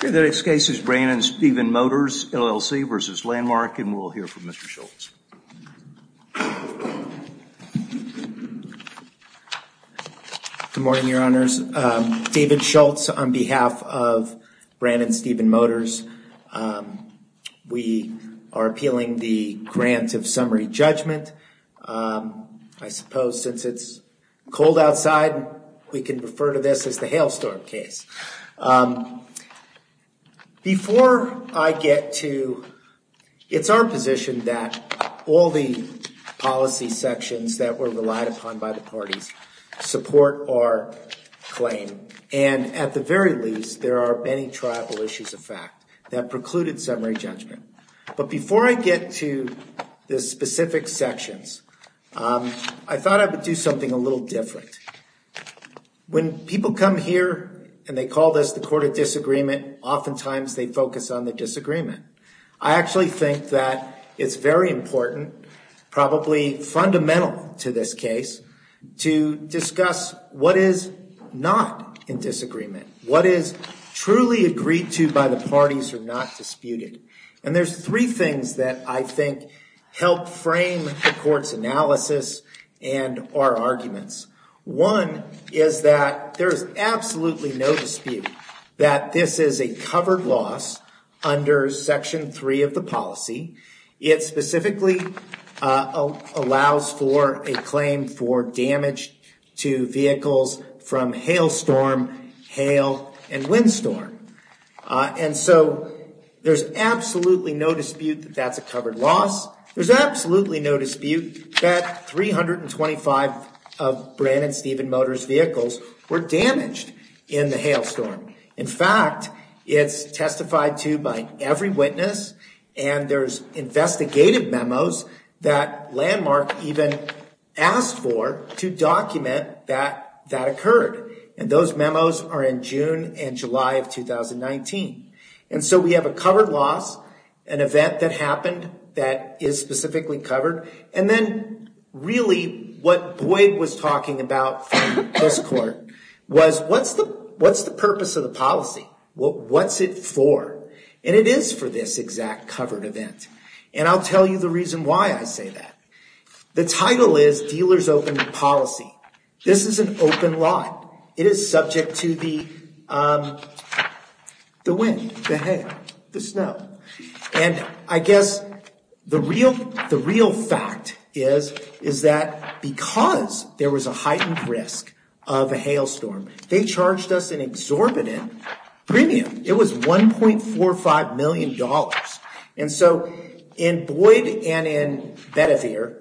The next case is Brandon Steven Motors, LLC v. Landmark, and we'll hear from Mr. Schultz. Good morning, your honors. David Schultz on behalf of Brandon Steven Motors. We are appealing the grant of summary judgment. I suppose since it's cold outside, we can refer to this as a hailstorm case. Before I get to, it's our position that all the policy sections that were relied upon by the parties support our claim. And at the very least, there are many tribal issues of fact that precluded summary judgment. But before I get to the specific call this the Court of Disagreement, oftentimes they focus on the disagreement. I actually think that it's very important, probably fundamental to this case, to discuss what is not in disagreement, what is truly agreed to by the parties are not disputed. And there's three things that I think help frame the court's analysis and our arguments. One is that there is absolutely no dispute that this is a covered loss under Section 3 of the policy. It specifically allows for a claim for damage to vehicles from hailstorm, hail, and windstorm. And so there's absolutely no dispute that that's a covered loss. There's absolutely no dispute that 325 of Brandon Steven Motors vehicles were damaged in the hailstorm. In fact, it's testified to by every witness and there's investigative memos that Landmark even asked for to document that that an event that happened that is specifically covered. And then really what Boyd was talking about from this court was what's the purpose of the policy? What's it for? And it is for this exact covered event. And I'll tell you the reason why I say that. The title is Dealers Open Policy. This is an open lot. It is subject to the wind, the hail, the snow. And I guess the real fact is that because there was a heightened risk of a hailstorm, they charged us an exorbitant premium. It was $1.45 million. And so in Boyd and in Bedivere,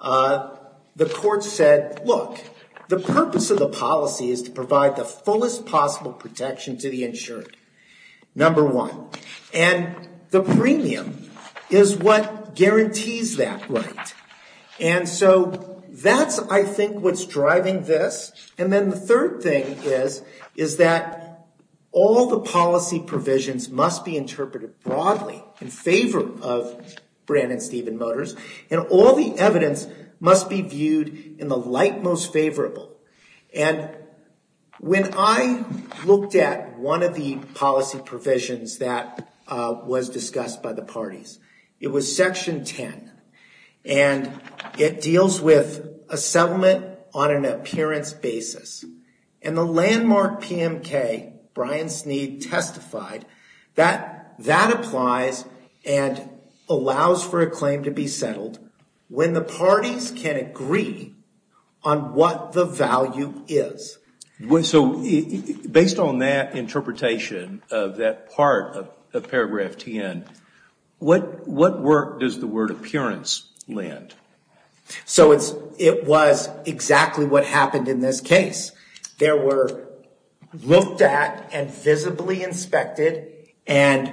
the court said, look, the purpose of the policy is to provide the fullest possible protection to the insured, number one. And the premium is what guarantees that right. And so that's I think what's driving this. And then the third thing is, is that all the policy provisions must be interpreted broadly in favor of Brandon Stephen Motors. And all the evidence must be viewed in the light most favorable. And when I looked at one of the policy provisions that was discussed by the parties, it was Section 10. And it deals with a settlement on an appearance basis. And the landmark PMK, Brian Sneed, testified that that applies and allows for a claim to be settled when the parties can agree on what the value is. So based on that interpretation of that part of Paragraph 10, what work does the word appearance lend? So it was exactly what happened in this case. They were looked at and visibly inspected and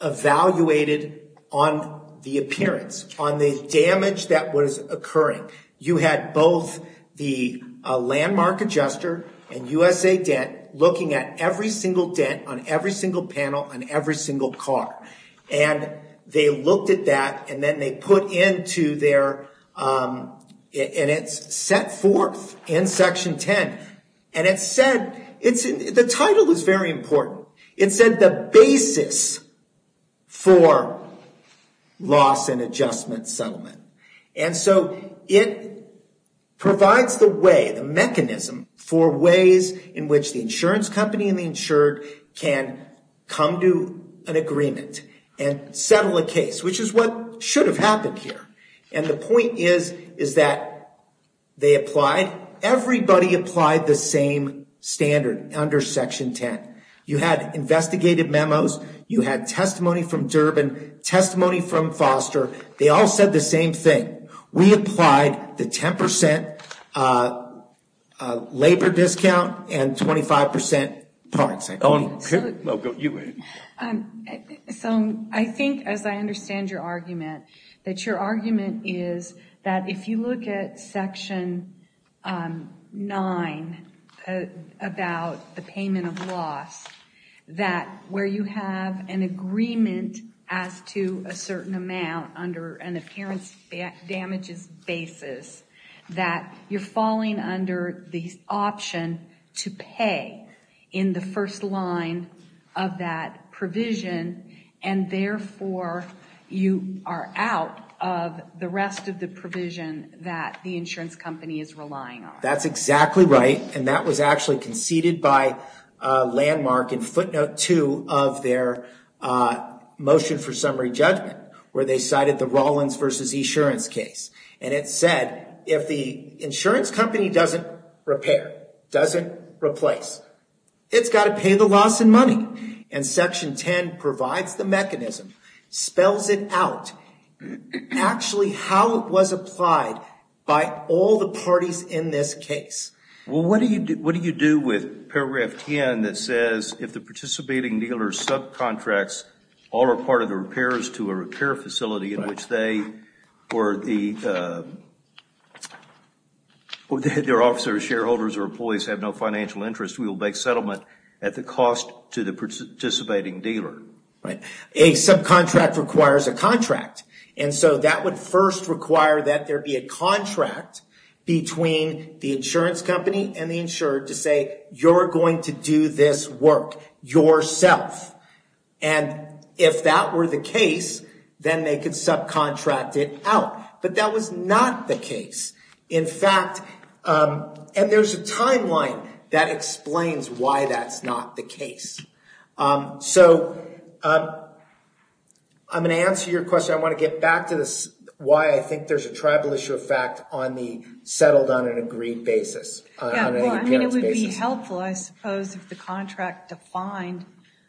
evaluated on the appearance, on the damage that was occurring. You had both the landmark adjuster and USA Debt looking at every single debt on every single panel on every single car. And they looked at that and then they put into their, and it's set forth in Section 10. And it said, the title is very important. It said the basis for loss and adjustment settlement. And so it provides the way, the mechanism for ways in which the insurance company and the insured can come to an agreement and settle a case, which is what should have happened here. And the point is, is that they applied, everybody applied the same standard under Section 10. You had investigated memos, you had testimony from Durbin, testimony from We applied the 10% labor discount and 25% parts. So I think, as I understand your argument, that your argument is that if you look at Section 9 about the payment of loss, that where you have an agreement as to a certain amount under an appearance damages basis, that you're falling under the option to pay in the first line of that provision. And therefore you are out of the rest of the provision that the insurance company is relying on. That's exactly right. And that was actually conceded by a landmark in footnote two of their motion for summary judgment, where they cited the Rollins versus insurance case. And it said, if the insurance company doesn't repair, doesn't replace, it's got to pay the loss in money. And Section 10 provides the mechanism, spells it out, actually how it was applied by all the parties in this case. Well, what do you do with paragraph 10 that says, if the participating dealer's subcontracts all are part of the repairs to a repair facility in which they or their officers, shareholders or employees have no financial interest, we will make settlement at the cost to the participating dealer. Right. A subcontract requires a contract. And so that would first require that there the insurance company and the insurer to say, you're going to do this work yourself. And if that were the case, then they could subcontract it out. But that was not the case. In fact, and there's a timeline that explains why that's not the case. So I'm going to answer your question. I want to get back to this, why I think there's a Well, I mean, it would be helpful, I suppose, if the contract defined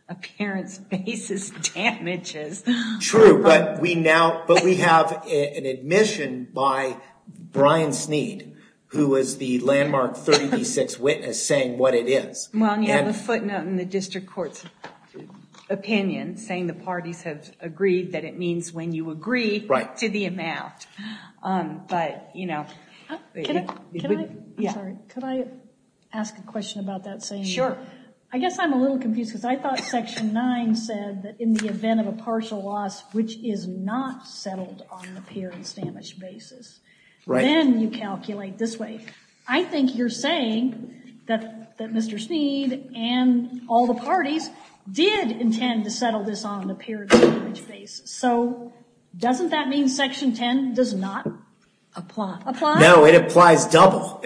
appearance basis damages. True. But we now, but we have an admission by Brian Sneed, who is the landmark 30D6 witness saying what it is. Well, you have a footnote in the district court's opinion saying the parties have agreed that it means when you agree to the amount. But, you know, Can I ask a question about that? Sure. I guess I'm a little confused because I thought Section 9 said that in the event of a partial loss, which is not settled on the appearance damage basis, then you calculate this way. I think you're saying that Mr. Sneed and all the parties did intend to settle this on an appearance damage basis. So doesn't that mean Section 10 does not apply? No, it applies double.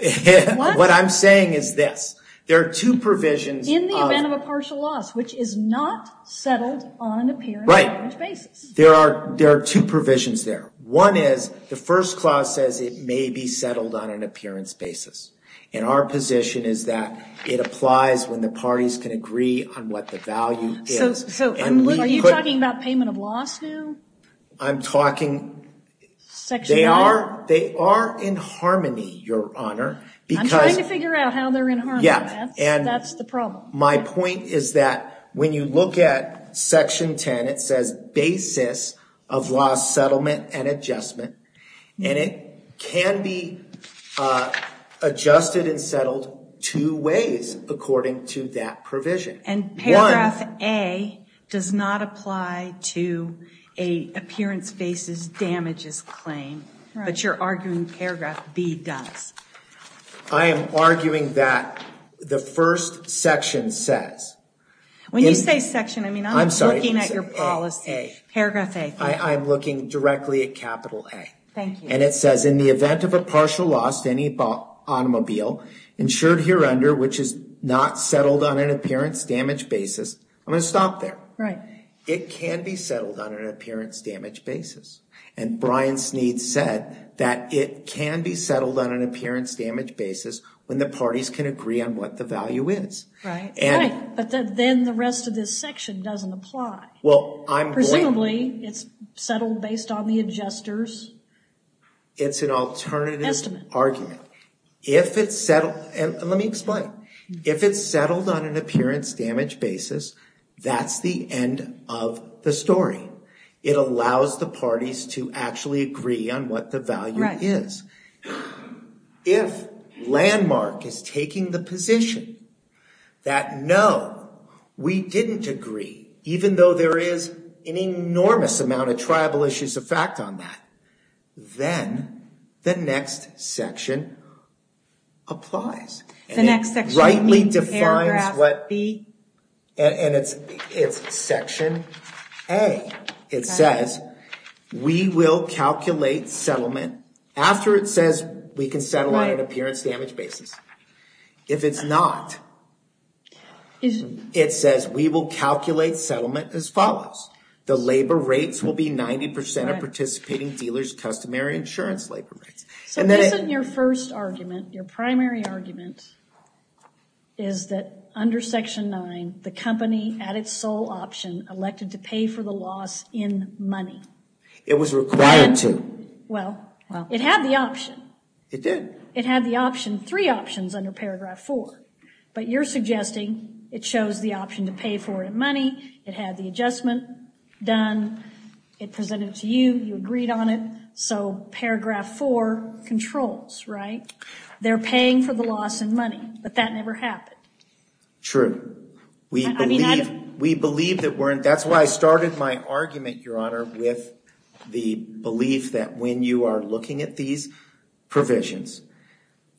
What I'm saying is this. There are two provisions. In the event of a partial loss, which is not settled on an appearance damage basis. There are two provisions there. One is the first clause says it may be settled on an appearance basis. And our position is that it applies when the parties can agree on what the value is. So are you talking about payment of loss now? I'm talking, they are in harmony, Your Honor. I'm trying to figure out how they're in harmony. That's the problem. My point is that when you look at Section 10, it says basis of loss settlement and adjustment. And it can be adjusted and settled two ways according to that provision. And paragraph A does not apply to an appearance basis damages claim. But you're arguing paragraph B does. I am arguing that the first section says. When you say section, I mean I'm looking at your policy. Paragraph A. I'm looking directly at capital A. Thank you. And it says in the event of a partial loss to any automobile insured here under which is not settled on an appearance damage basis. I'm going to stop there. Right. It can be settled on an appearance damage basis. And Brian Sneed said that it can be settled on an appearance damage basis when the parties can agree on what the value is. But then the rest of this section doesn't apply. Well, presumably it's settled based on the adjusters. It's an alternative argument. If it's settled, and let me explain. If it's settled on an appearance damage basis, that's the end of the story. It allows the parties to actually agree on what the value is. If Landmark is taking the position that no, we didn't agree, even though there is an enormous amount of tribal issues of fact on that. Then the next section applies. The next section B, paragraph B. And it's section A. It says we will calculate settlement after it says we can settle on an appearance damage basis. If it's not, it says we will calculate settlement as follows. The labor rates will be 90% of participating dealers' customary insurance labor rates. So this isn't your first argument. Your primary argument is that under section 9, the company, at its sole option, elected to pay for the loss in money. It was required to. Well, it had the option. It did. It had the option, three options under paragraph 4. But you're suggesting it chose the option to pay for it in money, it had the adjustment done, it presented it to you, you agreed on it. So paragraph 4 controls, right? They're paying for the loss in money, but that never happened. True. We believe that we're, that's why I started my argument, Your Honor, with the belief that when you are looking at these provisions,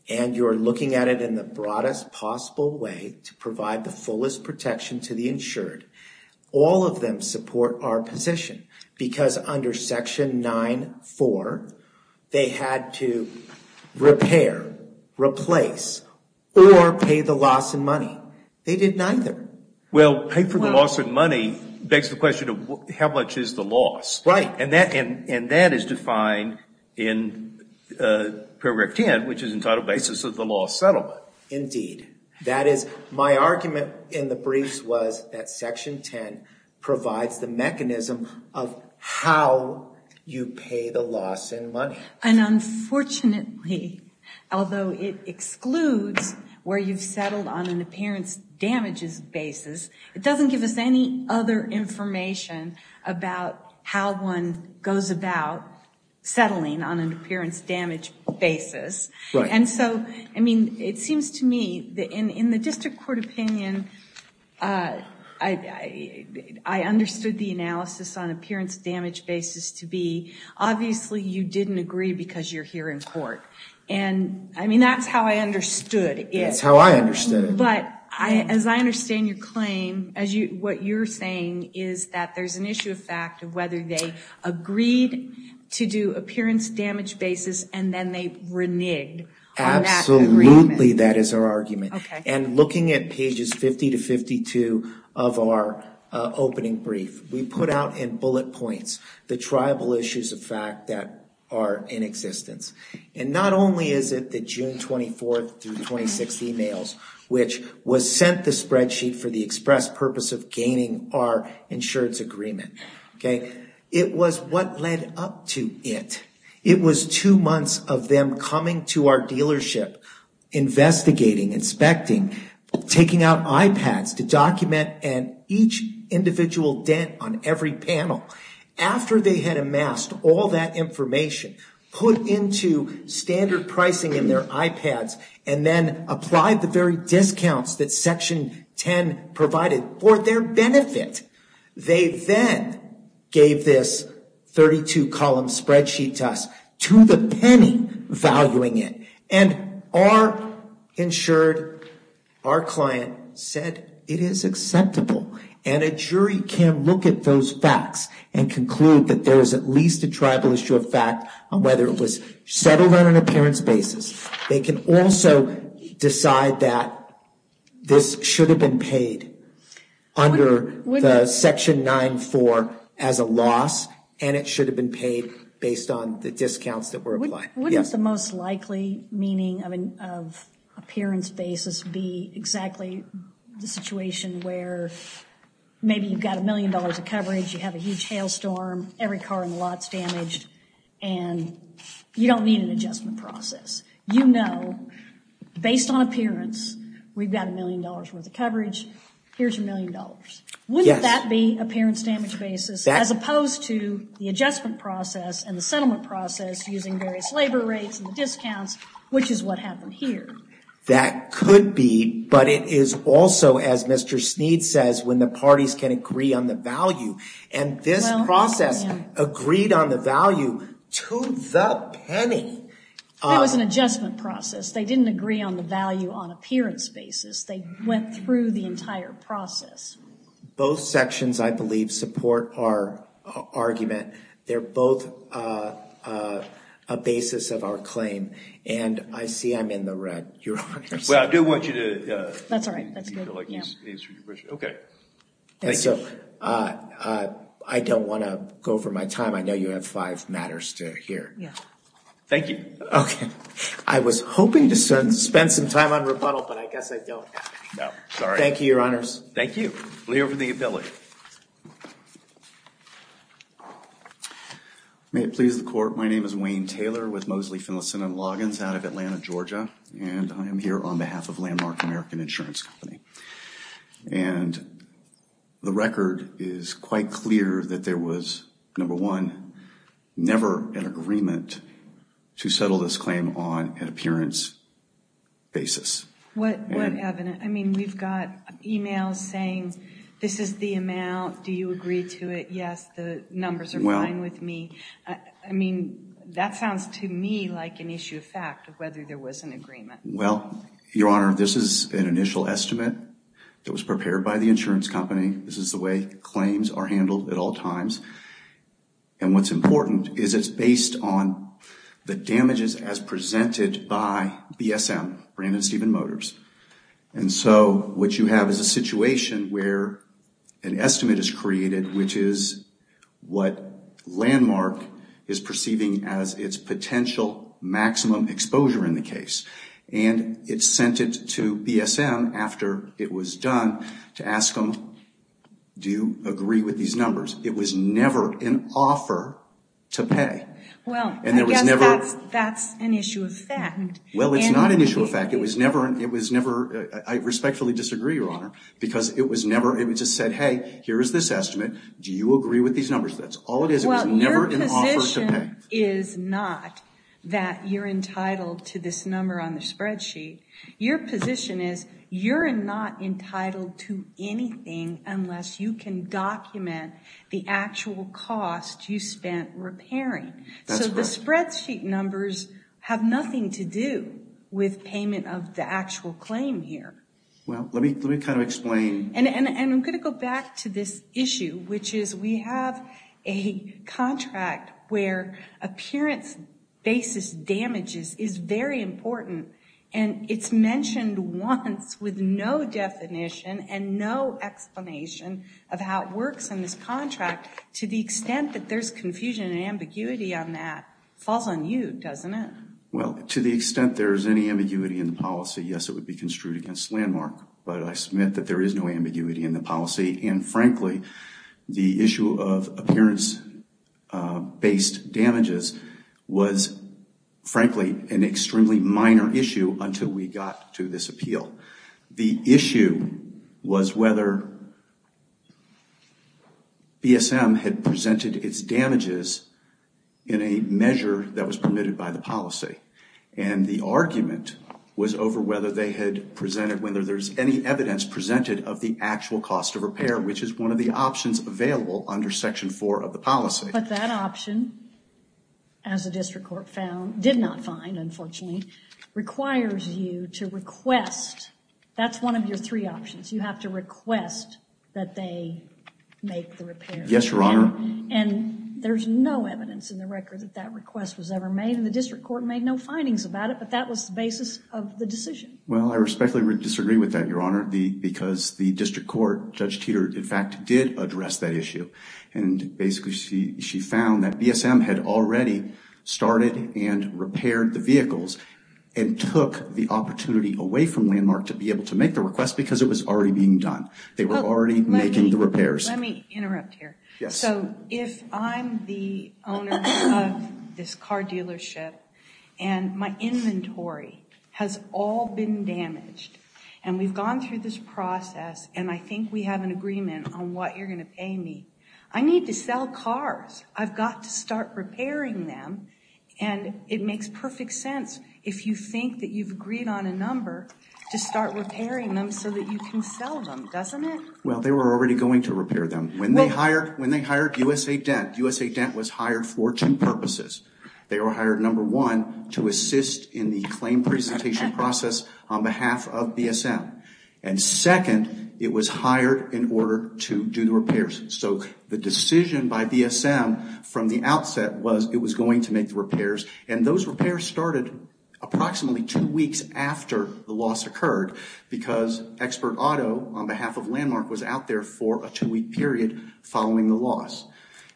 and you're looking at it in the broadest possible way to provide the fullest protection to the insured, all of them support our position, because under section 9.4, they had to repair, replace, or pay the loss in money. They did neither. Well, pay for the loss in money begs the question of how much is the loss? Right. And that is defined in paragraph 10, which is entitled Basis of the Loss Settlement. That is, my argument in the briefs was that section 10 provides the mechanism of how you pay the loss in money. And unfortunately, although it excludes where you've settled on an appearance damages basis, it doesn't give us any other information about how one goes about settling on an appearance damage basis. Right. And so, I mean, it seems to me that in the district court opinion, I understood the analysis on appearance damage basis to be, obviously you didn't agree because you're here in court. And, I mean, that's how I understood it. That's how I understood it. But as I understand your claim, what you're saying is that there's an issue of fact of whether they agreed to do appearance damage basis and then they reneged on that agreement. Absolutely, that is our argument. Okay. And looking at pages 50 to 52 of our opening brief, we put out in bullet points the tribal issues of fact that are in existence. And not only is it the June 24th through 26th emails, which was sent the spreadsheet for the express purpose of gaining our insurance agreement. Okay. It was what led up to it. It was two months of them coming to our dealership, investigating, inspecting, taking out iPads to document each individual dent on every panel. After they had amassed all that information, put into standard pricing in their iPads, and then applied the very discounts that Section 10 provided for their benefit, they then gave this 32-column spreadsheet to us to the penny valuing it. And our insured, our client, said it is acceptable. And a jury can look at those facts and conclude that there is at least a tribal issue of fact on whether it was settled on an appearance basis. They can also decide that this should have been paid under the Section 9-4 as a loss, and it should have been paid based on the discounts that were applied. Wouldn't the most likely meaning of appearance basis be exactly the situation where maybe you've got a million dollars of coverage, you have a huge hailstorm, every car in the lot is damaged, and you don't need an adjustment process. You know, based on appearance, we've got a million dollars worth of coverage. Here's your million dollars. Wouldn't that be appearance damage basis as opposed to the adjustment process and the settlement process using various labor rates and discounts, which is what happened here? That could be, but it is also, as Mr. Sneed says, when the parties can agree on the value. And this process agreed on the value to the penny. That was an adjustment process. They didn't agree on the value on appearance basis. They went through the entire process. Both sections, I believe, support our argument. They're both a basis of our claim. And I see I'm in the red, Your Honor. Well, I do want you to- That's all right. That's good. Okay. Thank you. I don't want to go for my time. I know you have five matters to hear. Yeah. Thank you. Okay. I was hoping to spend some time on rebuttal, but I guess I don't. No. Sorry. Thank you, Your Honors. Thank you. We'll hear from the ability. May it please the Court. My name is Wayne Taylor with Moseley, Finlayson & Loggins out of Atlanta, Georgia, and I am here on behalf of Landmark American Insurance Company. And the record is quite clear that there was, number one, never an agreement to settle this claim on an appearance basis. What evidence? I mean, we've got emails saying, this is the amount. Do you agree to it? Yes, the numbers are fine with me. I mean, that sounds to me like an issue of fact of whether there was an agreement. Well, Your Honor, this is an initial estimate that was prepared by the insurance company. This is the way claims are handled at all times. And what's important is it's based on the damages as presented by BSM, Brandon Stephen Motors. And so what you have is a situation where an estimate is created, which is what Landmark is perceiving as its potential maximum exposure in the case. And it's sent it to BSM after it was done to ask them, do you agree with these numbers? It was never an offer to pay. Well, I guess that's an issue of fact. Well, it's not an issue of fact. It was never, I respectfully disagree, Your Honor, because it was never, it was just said, hey, here is this estimate. Do you agree with these numbers? That's all it is. It was never an offer to pay. Well, your position is not that you're entitled to this number on the spreadsheet. Your position is you're not entitled to anything unless you can document the actual cost you spent repairing. That's correct. So the spreadsheet numbers have nothing to do with payment of the actual claim here. Well, let me kind of explain. And I'm going to go back to this issue, which is we have a contract where appearance basis damages is very important, and it's mentioned once with no definition and no explanation of how it works in this contract. To the extent that there's confusion and ambiguity on that falls on you, doesn't it? Well, to the extent there is any ambiguity in the policy, yes, it would be construed against Landmark. But I submit that there is no ambiguity in the policy. And, frankly, the issue of appearance-based damages was, frankly, an extremely minor issue until we got to this appeal. The issue was whether BSM had presented its damages in a measure that was permitted by the policy. And the argument was over whether they had presented, whether there's any evidence presented of the actual cost of repair, which is one of the options available under Section 4 of the policy. But that option, as the district court found, did not find, unfortunately, requires you to request. That's one of your three options. You have to request that they make the repair. Yes, Your Honor. And there's no evidence in the record that that request was ever made, and the district court made no findings about it, but that was the basis of the decision. Well, I respectfully disagree with that, Your Honor, because the district court, Judge Teeter, in fact, did address that issue. And basically she found that BSM had already started and repaired the vehicles and took the opportunity away from Landmark to be able to make the request because it was already being done. They were already making the repairs. Let me interrupt here. Yes. So if I'm the owner of this car dealership and my inventory has all been damaged and we've gone through this process and I think we have an agreement on what you're going to pay me, I need to sell cars. I've got to start repairing them. And it makes perfect sense, if you think that you've agreed on a number, to start repairing them so that you can sell them, doesn't it? Well, they were already going to repair them. When they hired USA Dent, USA Dent was hired for two purposes. They were hired, number one, to assist in the claim presentation process on behalf of BSM. And second, it was hired in order to do the repairs. So the decision by BSM from the outset was it was going to make the repairs, and those repairs started approximately two weeks after the loss occurred because Expert Auto on behalf of Landmark was out there for a two-week period following the loss.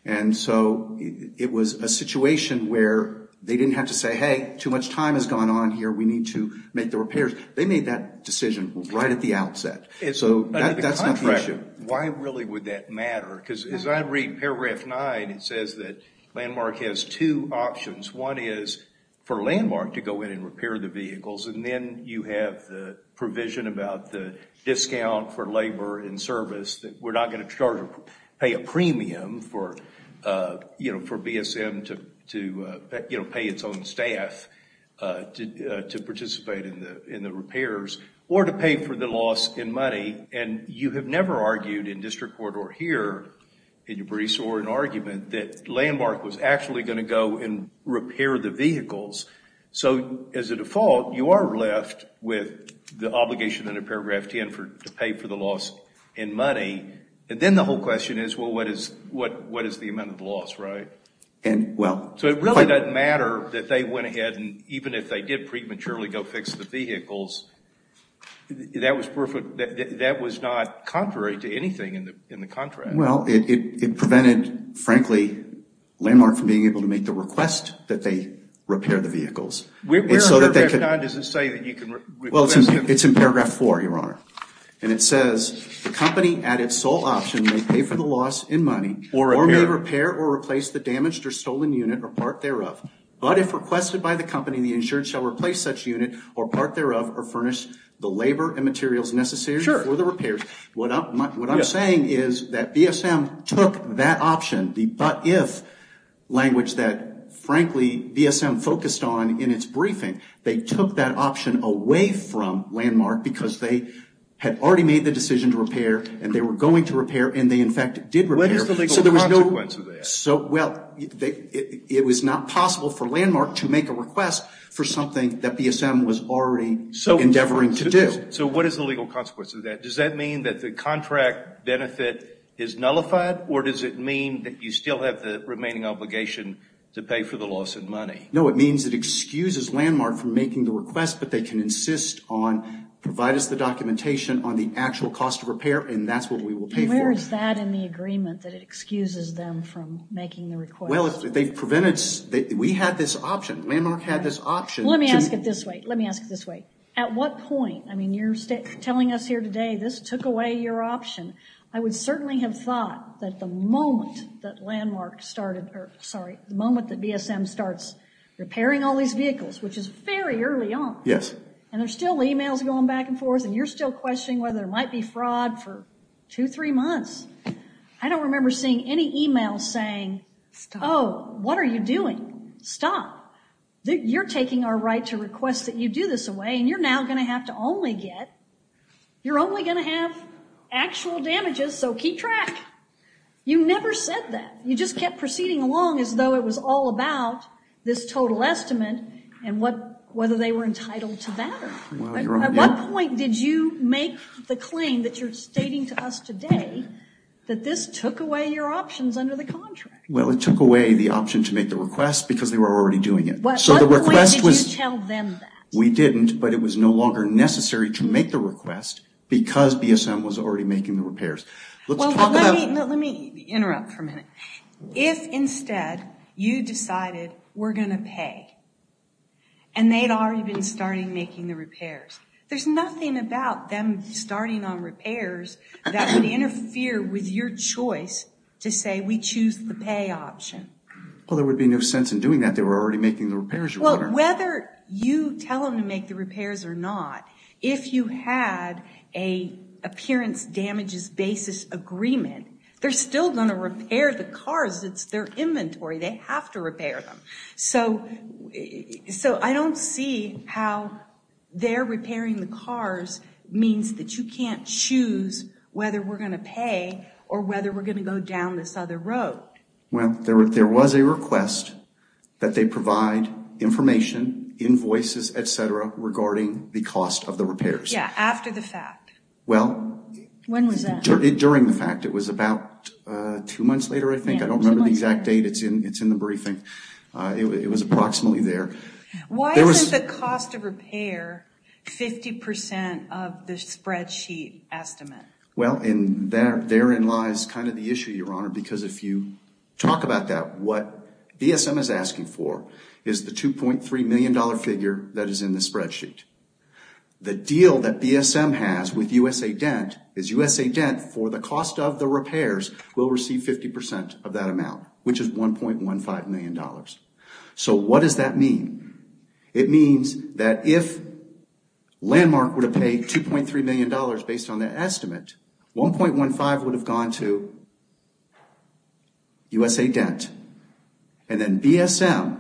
And so it was a situation where they didn't have to say, hey, too much time has gone on here. We need to make the repairs. They made that decision right at the outset. So that's not the issue. Why really would that matter? Because as I read Paragraph 9, it says that Landmark has two options. One is for Landmark to go in and repair the vehicles, and then you have the provision about the discount for labor and service, that we're not going to charge or pay a premium for, you know, for BSM to, you know, pay its own staff to participate in the repairs or to pay for the loss in money. And you have never argued in district court or here in your briefs or in argument that Landmark was actually going to go and repair the vehicles. So as a default, you are left with the obligation under Paragraph 10 to pay for the loss in money. And then the whole question is, well, what is the amount of the loss, right? So it really doesn't matter that they went ahead and even if they did prematurely go fix the vehicles, that was not contrary to anything in the contract. Well, it prevented, frankly, Landmark from being able to make the request that they repair the vehicles. Where in Paragraph 9 does it say that you can request it? Well, it's in Paragraph 4, Your Honor. And it says the company at its sole option may pay for the loss in money or may repair or replace the damaged or stolen unit or part thereof. But if requested by the company, the insured shall replace such unit or part thereof or furnish the labor and materials necessary for the repairs. What I'm saying is that BSM took that option, the but if language that, frankly, BSM focused on in its briefing, they took that option away from Landmark because they had already made the decision to repair and they were going to repair and they, in fact, did repair. What is the legal consequence of that? Well, it was not possible for Landmark to make a request for something that BSM was already endeavoring to do. So what is the legal consequence of that? Does that mean that the contract benefit is nullified or does it mean that you still have the remaining obligation to pay for the loss in money? No, it means it excuses Landmark from making the request, but they can insist on provide us the documentation on the actual cost of repair, and that's what we will pay for. Where is that in the agreement that it excuses them from making the request? Well, they prevented us. We had this option. Landmark had this option. Let me ask it this way. Let me ask it this way. At what point, I mean, you're telling us here today this took away your option. I would certainly have thought that the moment that Landmark started, or sorry, the moment that BSM starts repairing all these vehicles, which is very early on, and there's still emails going back and forth, and you're still questioning whether there might be fraud for two, three months. I don't remember seeing any emails saying, oh, what are you doing? Stop. You're taking our right to request that you do this away, and you're now going to have to only get, you're only going to have actual damages, so keep track. You never said that. You just kept proceeding along as though it was all about this total estimate and whether they were entitled to that. At what point did you make the claim that you're stating to us today that this took away your options under the contract? Well, it took away the option to make the request because they were already doing it. At what point did you tell them that? We didn't, but it was no longer necessary to make the request because BSM was already making the repairs. Well, let me interrupt for a minute. If instead you decided we're going to pay, and they'd already been starting making the repairs, there's nothing about them starting on repairs that would interfere with your choice to say we choose the pay option. Well, there would be no sense in doing that. They were already making the repairs. Well, whether you tell them to make the repairs or not, if you had an appearance damages basis agreement, they're still going to repair the cars. It's their inventory. They have to repair them. So I don't see how their repairing the cars means that you can't choose whether we're going to pay or whether we're going to go down this other road. Well, there was a request that they provide information, invoices, et cetera, regarding the cost of the repairs. Yeah, after the fact. Well. When was that? During the fact. It was about two months later, I think. I don't remember the exact date. It's in the briefing. It was approximately there. Why isn't the cost of repair 50% of the spreadsheet estimate? Well, therein lies kind of the issue, Your Honor, because if you talk about that, what BSM is asking for is the $2.3 million figure that is in the spreadsheet. The deal that BSM has with USA Dent is USA Dent, for the cost of the repairs, will receive 50% of that amount, which is $1.15 million. So what does that mean? It means that if Landmark were to pay $2.3 million based on that estimate, $1.15 million would have gone to USA Dent, and then BSM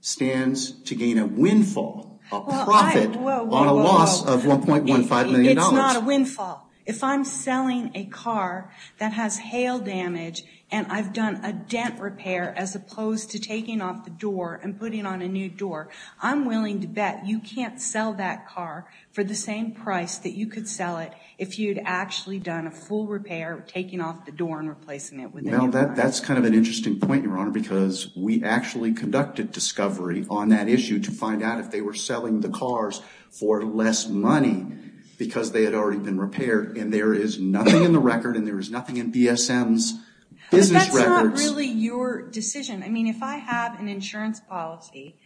stands to gain a windfall, a profit on a loss of $1.15 million. It's not a windfall. If I'm selling a car that has hail damage and I've done a dent repair as opposed to taking off the door and putting on a new door, I'm willing to bet you can't sell that car for the same price that you could sell it if you'd actually done a full repair, taking off the door and replacing it. That's kind of an interesting point, Your Honor, because we actually conducted discovery on that issue to find out if they were selling the cars for less money because they had already been repaired, and there is nothing in the record and there is nothing in BSM's business records. It's not really your decision. I mean, if I have an insurance policy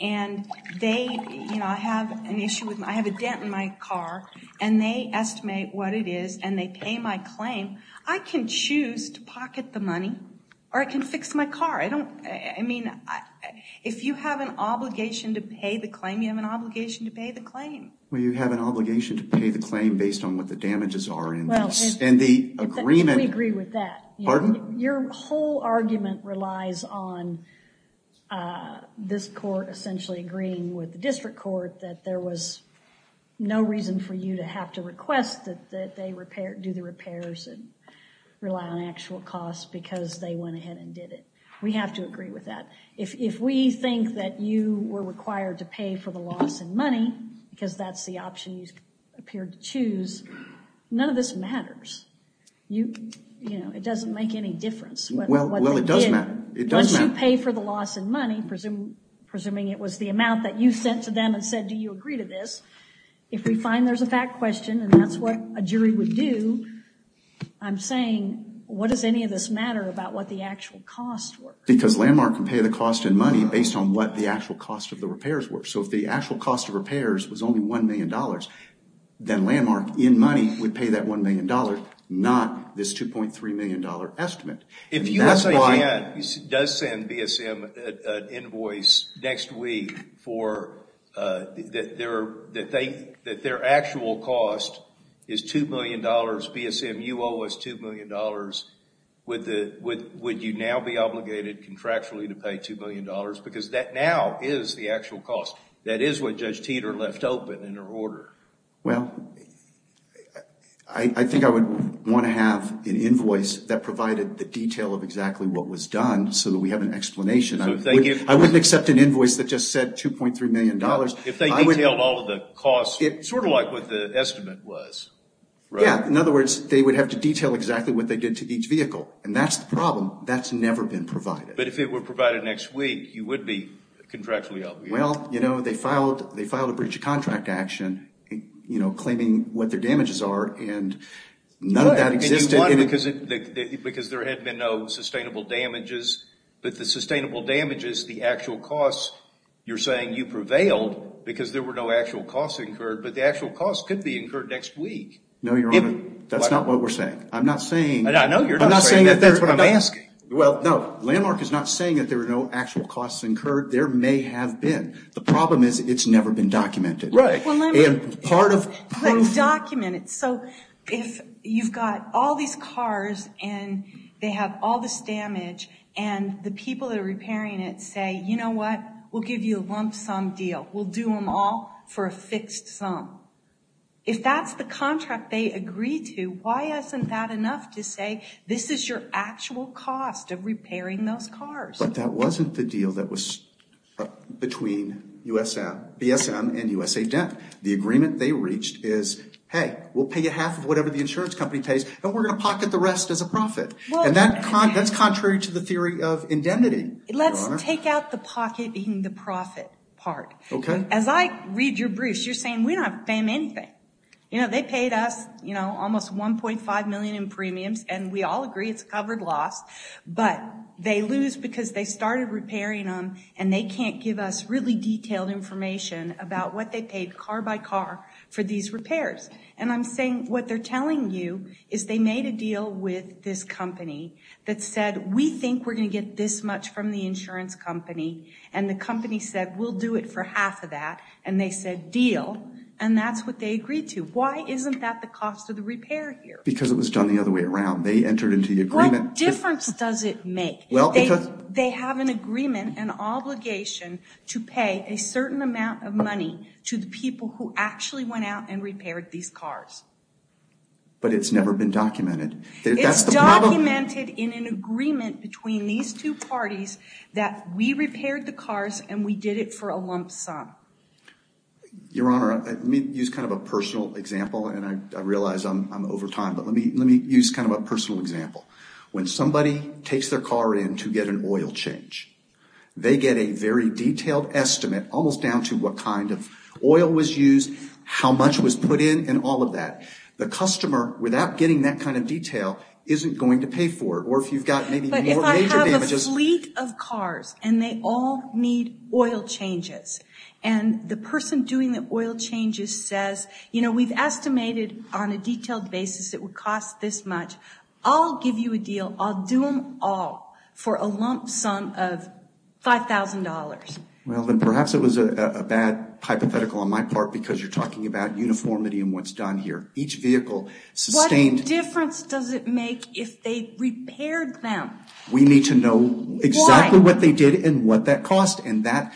and I have a dent in my car and they estimate what it is and they pay my claim, I can choose to pocket the money or I can fix my car. I mean, if you have an obligation to pay the claim, you have an obligation to pay the claim. Well, you have an obligation to pay the claim based on what the damages are in the agreement. We agree with that. Pardon? Your whole argument relies on this court essentially agreeing with the district court that there was no reason for you to have to request that they do the repairs and rely on actual costs because they went ahead and did it. We have to agree with that. If we think that you were required to pay for the loss in money because that's the option you appeared to choose, none of this matters. It doesn't make any difference. Well, it does matter. Once you pay for the loss in money, presuming it was the amount that you sent to them and said do you agree to this, if we find there's a fact question and that's what a jury would do, I'm saying what does any of this matter about what the actual costs were? Because Landmark can pay the cost in money based on what the actual cost of the repairs were. So if the actual cost of repairs was only $1 million, then Landmark in money would pay that $1 million, not this $2.3 million estimate. If USAGAN does send BSM an invoice next week that their actual cost is $2 million, BSMUO is $2 million, would you now be obligated contractually to pay $2 million? Because that now is the actual cost. That is what Judge Teeter left open in her order. Well, I think I would want to have an invoice that provided the detail of exactly what was done so that we have an explanation. I wouldn't accept an invoice that just said $2.3 million. If they detailed all of the costs, sort of like what the estimate was. Yeah. In other words, they would have to detail exactly what they did to each vehicle. And that's the problem. That's never been provided. But if it were provided next week, you would be contractually obligated. Well, you know, they filed a breach of contract action, you know, claiming what their damages are. And none of that existed. Because there had been no sustainable damages. But the sustainable damages, the actual costs, you're saying you prevailed because there were no actual costs incurred. But the actual costs could be incurred next week. No, Your Honor. That's not what we're saying. I'm not saying. I know you're not saying that. I'm not saying that. That's what I'm asking. Well, no. Landmark is not saying that there were no actual costs incurred. There may have been. The problem is it's never been documented. Right. And part of proof. Let's document it. So if you've got all these cars and they have all this damage and the people that are repairing it say, you know what, we'll give you a lump sum deal. We'll do them all for a fixed sum. If that's the contract they agreed to, why isn't that enough to say this is your actual cost of repairing those cars? But that wasn't the deal that was between BSM and USA Dent. The agreement they reached is, hey, we'll pay you half of whatever the insurance company pays and we're going to pocket the rest as a profit. And that's contrary to the theory of indemnity, Your Honor. Let's take out the pocketing the profit part. Okay. As I read your briefs, you're saying we don't have to pay them anything. You know, they paid us, you know, almost $1.5 million in premiums, and we all agree it's covered loss. But they lose because they started repairing them, and they can't give us really detailed information about what they paid car by car for these repairs. And I'm saying what they're telling you is they made a deal with this company that said, we think we're going to get this much from the insurance company, and the company said, we'll do it for half of that, and they said deal, and that's what they agreed to. Why isn't that the cost of the repair here? Because it was done the other way around. They entered into the agreement. What difference does it make? They have an agreement, an obligation, to pay a certain amount of money to the people who actually went out and repaired these cars. But it's never been documented. It's documented in an agreement between these two parties that we repaired the cars, and we did it for a lump sum. Your Honor, let me use kind of a personal example, and I realize I'm over time, but let me use kind of a personal example. When somebody takes their car in to get an oil change, they get a very detailed estimate almost down to what kind of oil was used, how much was put in, and all of that. The customer, without getting that kind of detail, isn't going to pay for it, or if you've got maybe more major damages. But if I have a fleet of cars, and they all need oil changes, and the person doing the oil changes says, you know, we've estimated on a detailed basis it would cost this much. I'll give you a deal. I'll do them all for a lump sum of $5,000. Well, then perhaps it was a bad hypothetical on my part because you're talking about uniformity in what's done here. Each vehicle sustained. What difference does it make if they repaired them? We need to know exactly what they did and what that cost, and that's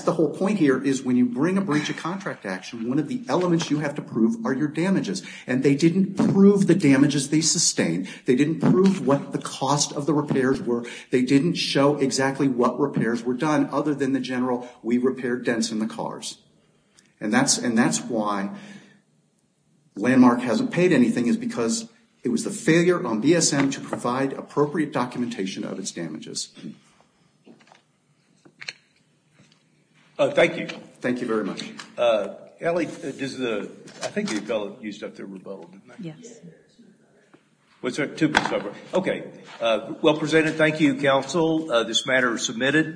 the whole point here is when you bring a breach of contract action, one of the elements you have to prove are your damages, and they didn't prove the damages they sustained. They didn't prove what the cost of the repairs were. They didn't show exactly what repairs were done other than the general, we repaired dents in the cars, and that's why Landmark hasn't paid anything is because it was the failure on BSM to provide appropriate documentation of its damages. Thank you. Thank you very much. Allie, I think you used up your rebuttal, didn't you? Yes. What's that? Okay. Well, presented, thank you, counsel. This matter is submitted.